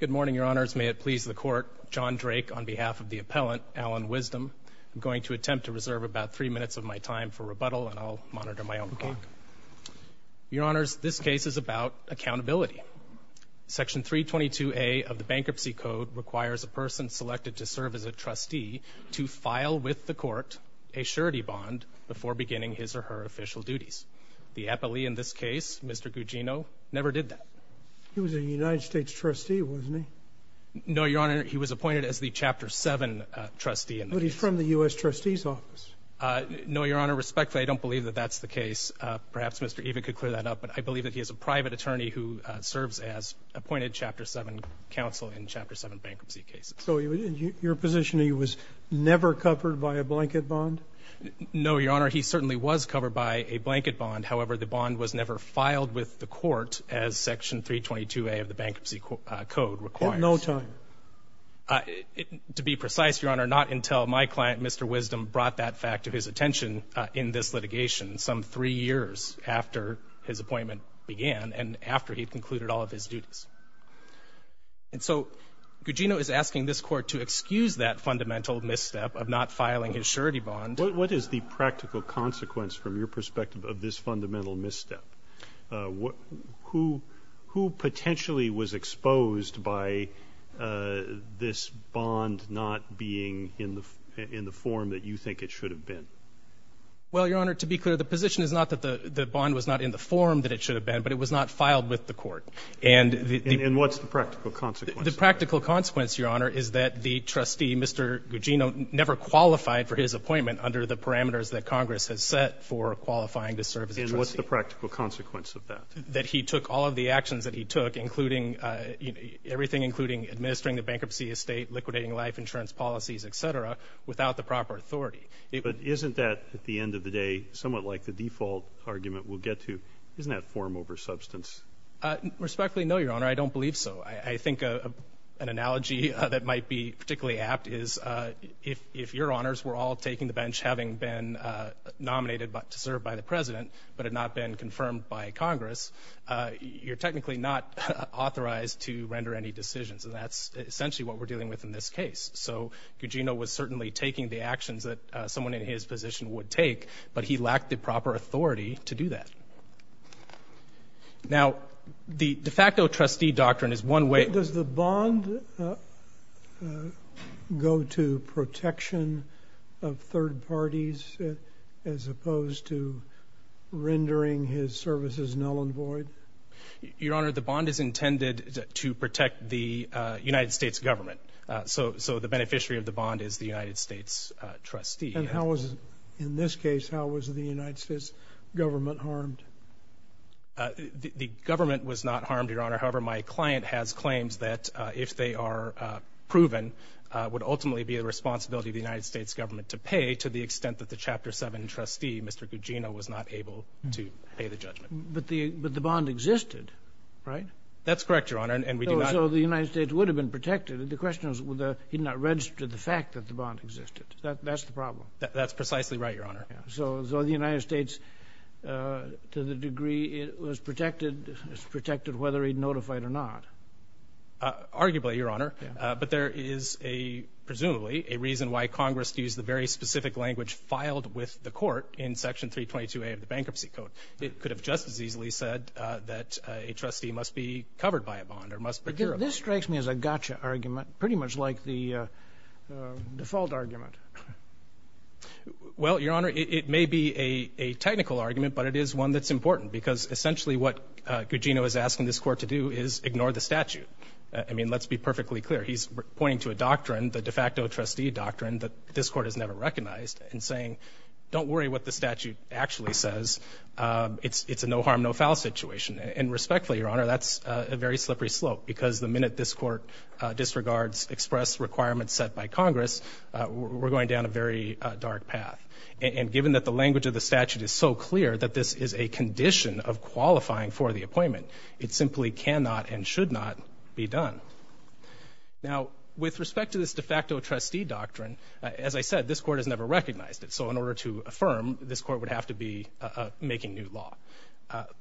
Good morning, Your Honors. May it please the Court, John Drake on behalf of the appellant, Alan Wisdom. I'm going to attempt to reserve about three minutes of my time for rebuttal and I'll monitor my own clock. Your Honors, this case is about accountability. Section 322A of the Bankruptcy Code requires a person selected to serve as a trustee to file with the Court a surety bond before beginning his or her official duties. The appellee in this case, Mr. Gugino, never did that. He was a United States trustee, wasn't he? No, Your Honor. He was appointed as the Chapter 7 trustee in this case. But he's from the U.S. Trustee's Office. No, Your Honor. Respectfully, I don't believe that that's the case. Perhaps Mr. Evick could clear that up. But I believe that he is a private attorney who serves as appointed Chapter 7 counsel in Chapter 7 bankruptcy cases. So your position is he was never covered by a blanket bond? No, Your Honor. He certainly was covered by a blanket bond. However, the fact is he was never filed with the Court as Section 322A of the Bankruptcy Code requires. At no time? To be precise, Your Honor, not until my client, Mr. Wisdom, brought that fact to his attention in this litigation some three years after his appointment began and after he had concluded all of his duties. And so Gugino is asking this Court to excuse that fundamental misstep of not filing his surety bond. What is the practical consequence from your perspective of this fundamental misstep? Who potentially was exposed by this bond not being in the form that you think it should have been? Well, Your Honor, to be clear, the position is not that the bond was not in the form that it should have been, but it was not filed with the Court. And the ---- And what's the practical consequence? The practical consequence, Your Honor, is that the trustee, Mr. Gugino, never qualified for his appointment under the parameters that Congress has set for qualifying to serve as a trustee. And what's the practical consequence of that? That he took all of the actions that he took, including ---- everything including administering the bankruptcy estate, liquidating life insurance policies, et cetera, without the proper authority. But isn't that, at the end of the day, somewhat like the default argument we'll get to? Isn't that form over substance? Respectfully, no, Your Honor. I don't believe so. I think an analogy that might be taking the bench, having been nominated to serve by the President, but had not been confirmed by Congress, you're technically not authorized to render any decisions. And that's essentially what we're dealing with in this case. So Gugino was certainly taking the actions that someone in his position would take, but he lacked the proper authority to do that. Now, the de facto trustee doctrine is one way ---- go to protection of third parties, as opposed to rendering his services null and void? Your Honor, the bond is intended to protect the United States government. So the beneficiary of the bond is the United States trustee. And how was, in this case, how was the United States government harmed? The government was not harmed, Your Honor. However, my client has claims that if they are proven, would ultimately be the responsibility of the United States government to pay, to the extent that the Chapter 7 trustee, Mr. Gugino, was not able to pay the judgment. But the bond existed, right? That's correct, Your Honor. And we do not ---- So the United States would have been protected. The question is, would the ---- he'd not register the fact that the bond existed. That's the problem. That's precisely right, Your Honor. So the United States, to the degree it was protected, was protected whether he'd notified or not. Arguably, Your Honor. But there is a, presumably, a reason why Congress used the very specific language filed with the Court in Section 322a of the Bankruptcy Code. It could have just as easily said that a trustee must be covered by a bond or must procure a bond. This strikes me as a gotcha argument, pretty much like the default argument. Well, Your Honor, it may be a technical argument, but it is one that's important. Because essentially what Gugino is asking this Court to do is ignore the statute. I mean, let's be perfectly clear. He's pointing to a doctrine, the de facto trustee doctrine, that this Court has never recognized, and saying, don't worry what the statute actually says. It's a no harm, no foul situation. And respectfully, Your Honor, that's a very slippery slope. Because the minute this Court disregards express requirements set by Congress, we're going down a very dark path. And given that the language of the statute is so clear that this is a condition of qualifying for the appointment, it simply cannot and should not be done. Now, with respect to this de facto trustee doctrine, as I said, this Court has never recognized it. So in order to affirm, this Court would have to be making new law.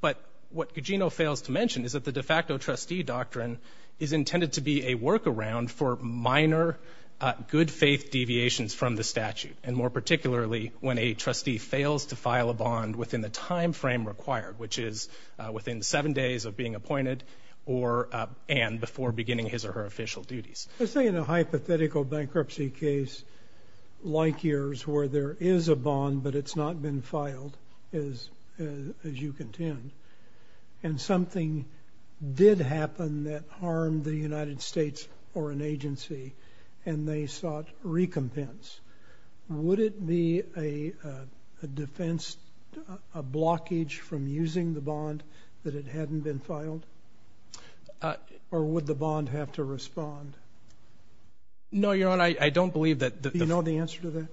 But what Gugino fails to mention is that the de facto trustee doctrine is intended to be a workaround for minor good faith deviations from the statute. And more particularly, when a trustee fails to file a bond within the time frame required, which is within seven days of being appointed and before beginning his or her official duties. Let's say in a hypothetical bankruptcy case like yours, where there is a bond, but it's not been filed, as you contend. And something did happen that harmed the United States or an agency, and they sought recompense. Would it be a defense, a blockage from using the bond that it hadn't been filed? Or would the bond have to respond? No, Your Honor. I don't believe that the ---- Do you know the answer to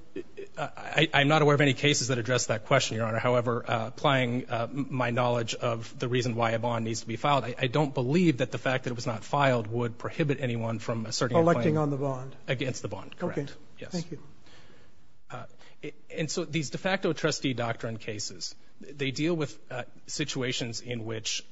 that? I'm not aware of any cases that address that question, Your Honor. However, applying my knowledge of the reason why a bond needs to be filed, I don't believe that the fact that it was not filed would prohibit anyone from asserting a claim. Electing on the bond. Against the bond, correct. Okay. Yes. Thank you. And so these de facto trustee doctrine cases, they deal with situations in which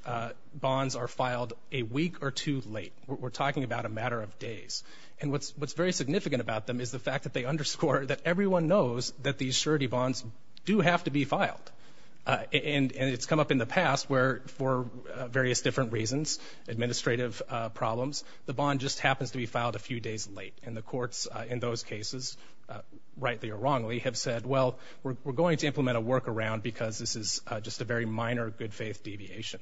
bonds are filed a week or two late. We're talking about a matter of days. And what's very significant about them is the fact that they underscore that everyone knows that these surety bonds do have to be filed. And it's come up in the past where for various different reasons, administrative problems, the bond just happens to be filed a few days late. And the courts in those cases, rightly or wrongly, have said, well, we're going to implement a workaround because this is just a very minor good-faith deviation.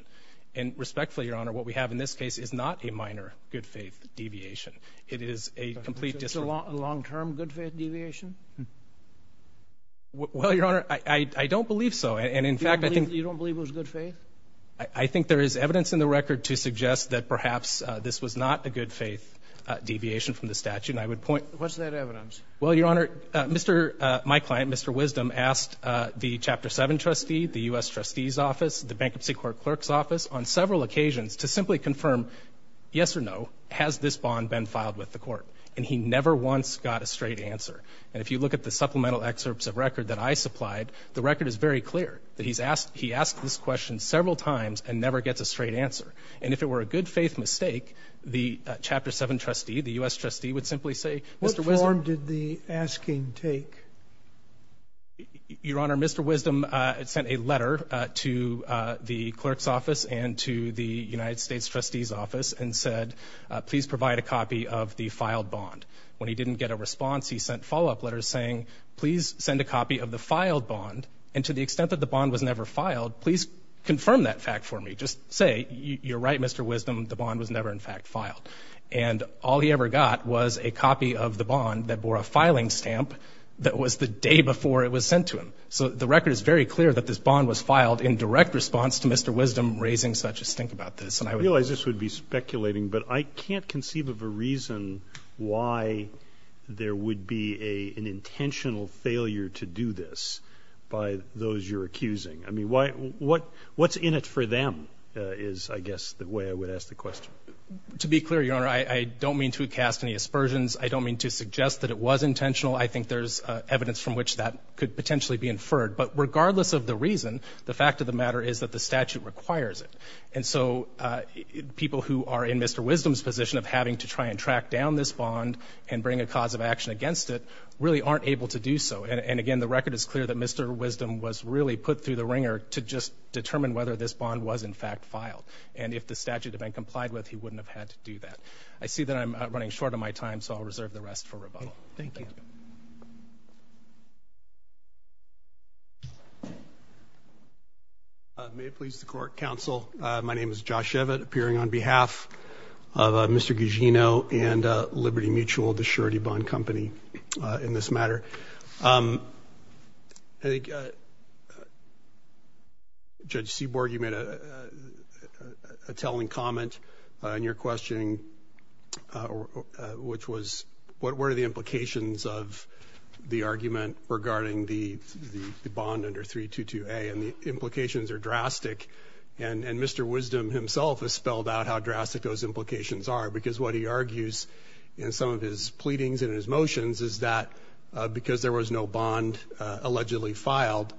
And respectfully, Your Honor, what we have in this case is not a minor good-faith deviation. It is a complete disregard. So it's a long-term good-faith deviation? Well, Your Honor, I don't believe so. And in fact, I think you don't believe it was good faith? I think there is evidence in the record to suggest that perhaps this was not a good-faith deviation from the statute. And I would point to that. What's that evidence? Well, Your Honor, my client, Mr. Wisdom, asked the Chapter 7 trustee, the U.S. Trustee's office, the Bankruptcy Court Clerk's office on several occasions to simply confirm, yes or no, has this bond been filed with the court? And he never once got a straight answer. And if you look at the supplemental excerpts of record that I supplied, the record is very clear that he's asked this question several times and never gets a straight answer. And if it were a good-faith mistake, the Chapter 7 trustee, the U.S. Trustee, would simply say, Mr. Wisdom What form did the asking take? Your Honor, Mr. Wisdom sent a letter to the Clerk's office and to the United States Trustee's office and said, please provide a copy of the filed bond. When he didn't get a response, he sent follow-up letters saying, please send a copy of the filed bond. And to the extent that the bond was never filed, please confirm that fact for me. Just say, you're right, Mr. Wisdom, the bond was never in fact filed. And all he ever got was a copy of the bond that bore a filing stamp that was the day before it was sent to him. So the record is very clear that this bond was filed in direct response to Mr. Wisdom raising such a stink about this. And I would hope so. Roberts, I realize this would be speculating, but I can't conceive of a reason why there would be an intentional failure to do this by those you're accusing. I mean, what's in it for them is, I guess, the way I would ask the question. To be clear, Your Honor, I don't mean to cast any aspersions. I don't mean to suggest that it was intentional. I think there's evidence from which that could potentially be inferred. But regardless of the reason, the fact of the matter is that the statute requires this bond to be filed. And so people who are in Mr. Wisdom's position of having to try and track down this bond and bring a cause of action against it really aren't able to do so. And again, the record is clear that Mr. Wisdom was really put through the ringer to just determine whether this bond was in fact filed. And if the statute had been complied with, he wouldn't have had to do that. I see that I'm running short on my time, so I'll reserve the rest for rebuttal. Thank you. Thank you. May it please the Court. Counsel, my name is Josh Shevitt, appearing on behalf of Mr. Gugino and Liberty Mutual, the surety bond company, in this matter. Judge Seaborg, you made a telling comment in your questioning, which was, what were the implications of the argument regarding the bond under 322A, and the implications are drastic. And Mr. Wisdom himself has spelled out how drastic those implications are, because what he argues in some of his pleadings and in his motions is that because there was no bond allegedly filed,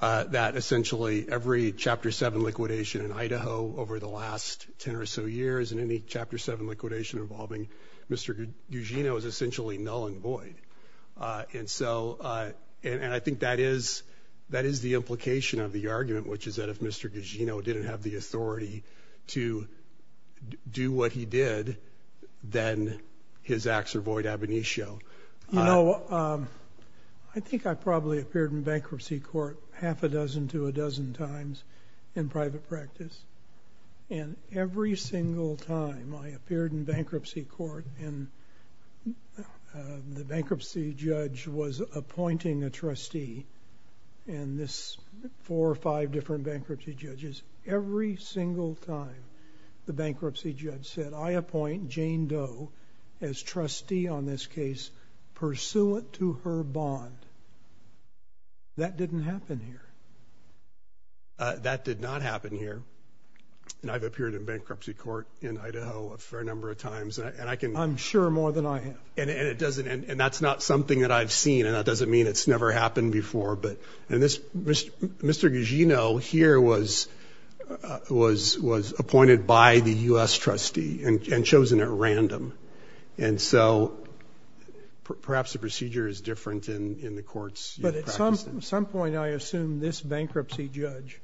that essentially every Chapter 7 liquidation in Idaho over the last 10 or so years and any Chapter 7 liquidation involving Mr. Gugino is essentially null and void. And I think that is the implication of the argument, which is that if Mr. Gugino didn't have the authority to do what he did, then his acts are void ab initio. You know, I think I probably appeared in bankruptcy court half a dozen to a dozen times in private practice. And every single time I appeared in bankruptcy court and the bankruptcy judge was appointing a trustee, and this four or five different bankruptcy judges, every single time the bankruptcy judge said, I appoint Jane Doe as trustee on this case pursuant to her bond. That didn't happen here. That did not happen here. And I've appeared in bankruptcy court in Idaho a fair number of times, and I can. I'm sure more than I have. And it doesn't end. And that's not something that I've seen. And that doesn't mean it's never happened before. But Mr. Gugino here was appointed by the U.S. trustee and chosen at random. And so perhaps the procedure is different in the courts. But at some point I assume this bankruptcy judge,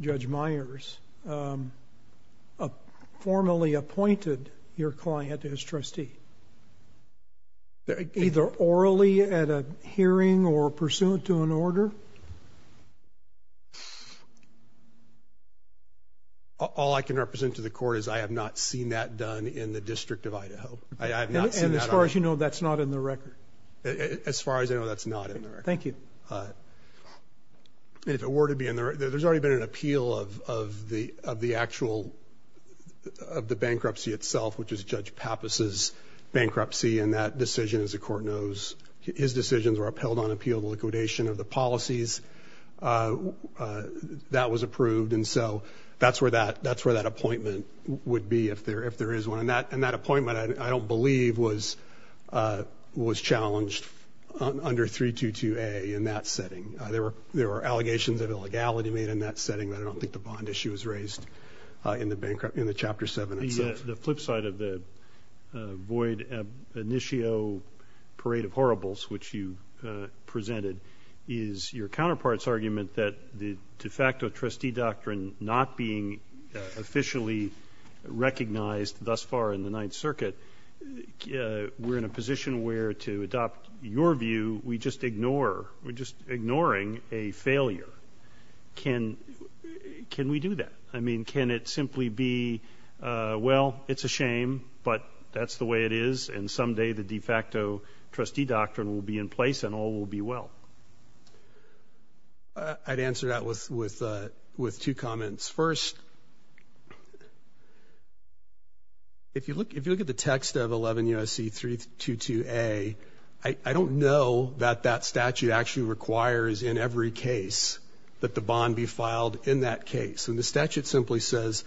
Judge Myers, formally appointed your client as trustee, either orally at a hearing or pursuant to an order? All I can represent to the court is I have not seen that done in the District of Idaho. I have not seen that done. And as far as you know, that's not in the record. As far as I know, that's not in the record. Thank you. And if it were to be in the record, there's already been an appeal of the actual of the bankruptcy itself, which is Judge Pappas's bankruptcy. And that decision, as the court knows, his decisions were upheld on appeal to liquidation of the policies. That was approved. And so that's where that appointment would be if there is one. And that appointment, I don't believe, was challenged under 322A in that setting. There were allegations of illegality made in that setting, but I don't think the bond issue was raised in the Chapter 7 itself. The flip side of the void initio parade of horribles, which you presented, is your counterpart's argument that the de facto trustee doctrine not being officially recognized thus far in the Ninth Circuit, we're in a position where, to adopt your view, we just ignore, we're just ignoring a failure. Can we do that? I mean, can it simply be, well, it's a shame, but that's the way it is, and someday the de facto trustee doctrine will be in place and all will be well? I'd answer that with two comments. First, if you look at the text of 11 U.S.C. 322A, I don't know that that statute actually requires in every case that the bond be filed in that case. And the statute simply says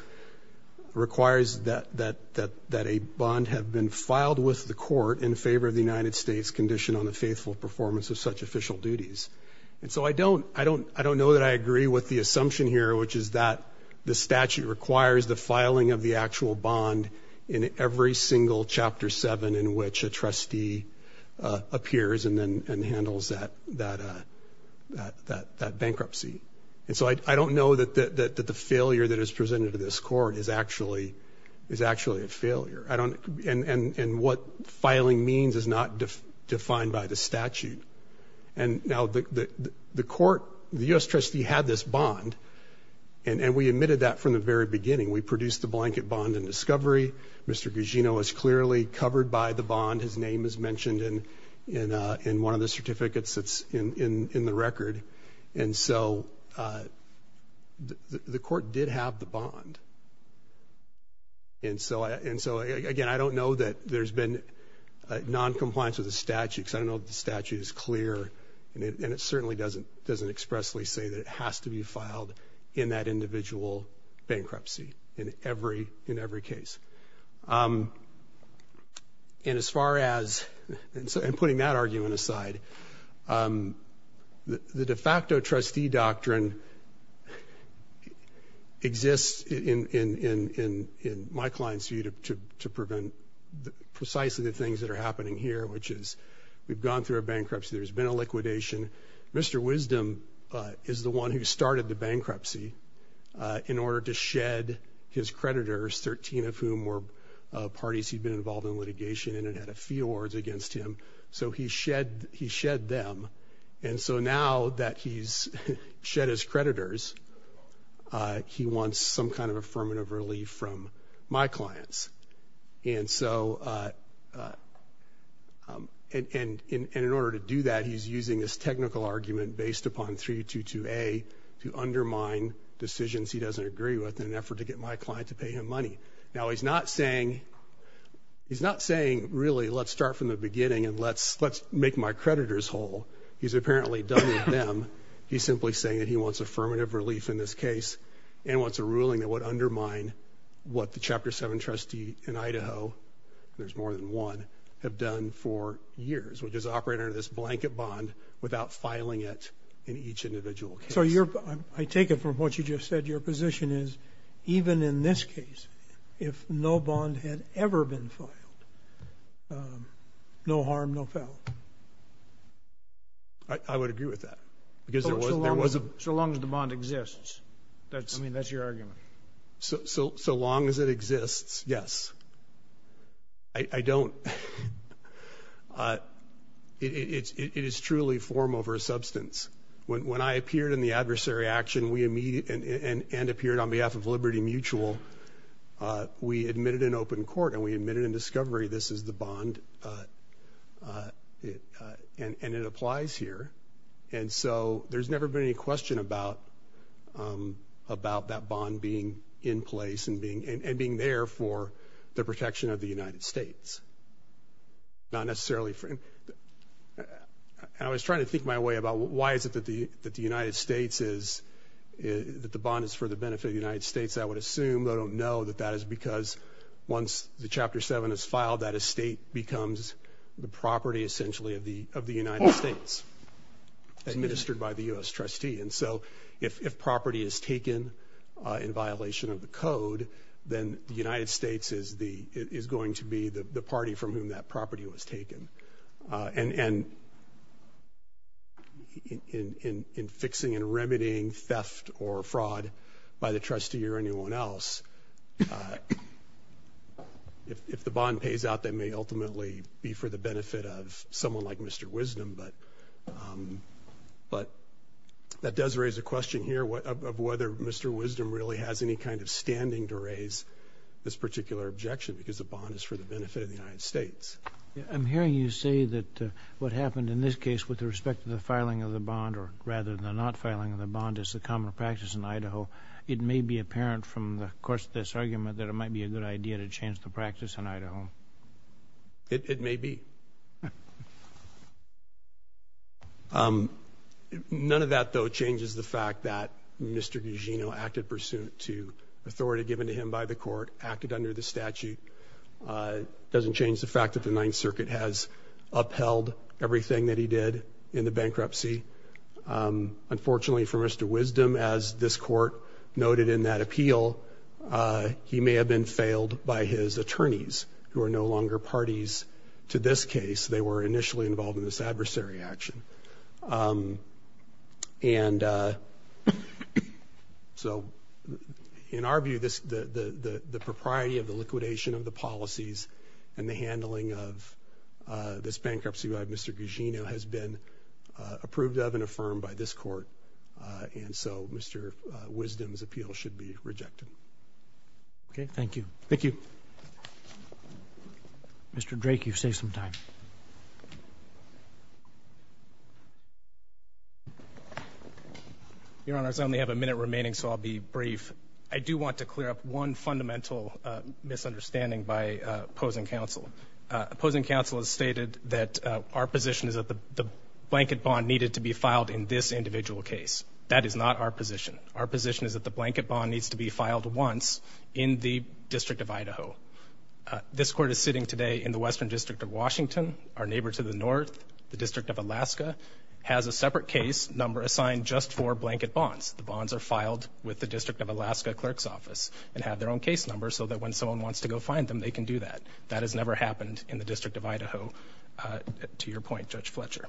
it requires that a bond have been filed with the court in favor of the United States conditioned on the faithful performance of such official duties. And so I don't know that I agree with the assumption here, which is that the statute requires the filing of the actual bond in every single Chapter 7 in which a trustee appears and handles that bankruptcy. And so I don't know that the failure that is presented to this court is actually a failure. And what filing means is not defined by the statute. And now the court, the U.S. trustee had this bond, and we admitted that from the very beginning. We produced the blanket bond in discovery. Mr. Gugino is clearly covered by the bond. His name is mentioned in one of the certificates that's in the record. And so the court did have the bond. And so, again, I don't know that there's been noncompliance with the statute because I don't know that the statute is clear. And it certainly doesn't expressly say that it has to be filed in that individual bankruptcy in every case. And as far as, and putting that argument aside, the de facto trustee doctrine exists, in my client's view, to prevent precisely the things that are happening here, which is we've gone through a bankruptcy. There's been a liquidation. Mr. Wisdom is the one who started the bankruptcy in order to shed his creditors, 13 of whom were parties he'd been involved in litigation, and it had a fee awards against him. So he shed them. And so now that he's shed his creditors, he wants some kind of affirmative relief from my clients. And so in order to do that, he's using this technical argument based upon 322A to undermine decisions he doesn't agree with in an effort to get my client to pay him money. Now, he's not saying really let's start from the beginning and let's make my creditors whole. He's apparently done with them. He's simply saying that he wants affirmative relief in this case and wants a ruling that would undermine what the Chapter 7 trustee in Idaho, and there's more than one, have done for years, which is operate under this blanket bond without filing it in each individual case. So I take it from what you just said, your position is even in this case, if no bond had ever been filed, no harm, no foul. I would agree with that. So long as the bond exists. I mean, that's your argument. So long as it exists, yes. I don't. It is truly form over substance. When I appeared in the adversary action and appeared on behalf of Liberty Mutual, we admitted in open court and we admitted in discovery this is the bond and it applies here. And so there's never been any question about that bond being in place and being there for the protection of the United States. Not necessarily. I was trying to think my way about why is it that the United States is, that the bond is for the benefit of the United States. I would assume, though I don't know, that that is because once the Chapter 7 is filed, that estate becomes the property essentially of the United States administered by the U.S. trustee. Then the United States is going to be the party from whom that property was taken. And in fixing and remedying theft or fraud by the trustee or anyone else, if the bond pays out, that may ultimately be for the benefit of someone like Mr. Wisdom. But that does raise a question here of whether Mr. Wisdom really has any kind of standing to raise this particular objection because the bond is for the benefit of the United States. I'm hearing you say that what happened in this case with respect to the filing of the bond or rather than not filing the bond as a common practice in Idaho, it may be apparent from the course of this argument that it might be a good idea to change the practice in Idaho. It may be. None of that, though, changes the fact that Mr. Gugino acted pursuant to authority given to him by the court, acted under the statute. It doesn't change the fact that the Ninth Circuit has upheld everything that he did in the bankruptcy. Unfortunately for Mr. Wisdom, as this Court noted in that appeal, he may have been failed by his attorneys, who are no longer parties to this case. They were initially involved in this adversary action. And so in our view, the propriety of the liquidation of the policies and the handling of this bankruptcy by Mr. Gugino has been approved of and affirmed by this court, and so Mr. Wisdom's appeal should be rejected. Okay. Thank you. Thank you. Mr. Drake, you've saved some time. Your Honors, I only have a minute remaining, so I'll be brief. I do want to clear up one fundamental misunderstanding by opposing counsel. Opposing counsel has stated that our position is that the blanket bond needed to be filed in this individual case. That is not our position. Our position is that the blanket bond needs to be filed once in the District of Idaho. This Court is sitting today in the Western District of Washington. Our neighbor to the north, the District of Alaska, has a separate case number assigned just for blanket bonds. The bonds are filed with the District of Alaska clerk's office and have their own case number so that when someone wants to go find them, they can do that. That has never happened in the District of Idaho, to your point, Judge Fletcher.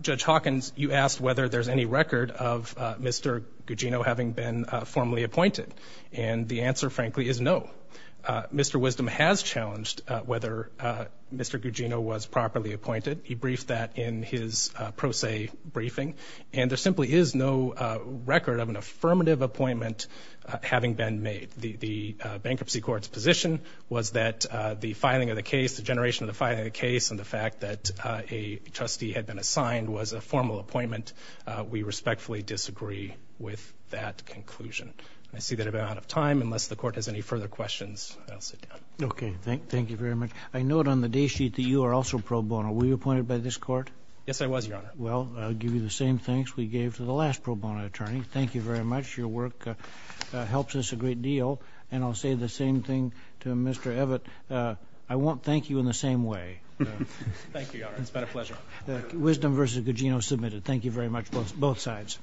Judge Hawkins, you asked whether there's any record of Mr. Gugino having been formally appointed, and the answer, frankly, is no. Mr. Wisdom has challenged whether Mr. Gugino was properly appointed. He briefed that in his pro se briefing, and there simply is no record of an affirmative appointment having been made. The bankruptcy court's position was that the filing of the case, the generation of the filing of the case, and the fact that a trustee had been assigned was a formal appointment, we respectfully disagree with that conclusion. I see that I've run out of time. Unless the Court has any further questions, I'll sit down. Okay. Thank you very much. I note on the day sheet that you are also pro bono. Were you appointed by this Court? Yes, I was, Your Honor. Well, I'll give you the same thanks we gave to the last pro bono attorney. Thank you very much. Your work helps us a great deal, and I'll say the same thing to Mr. Evatt. I won't thank you in the same way. Thank you, Your Honor. It's been a pleasure. Wisdom v. Gugino submitted. Thank you very much, both sides.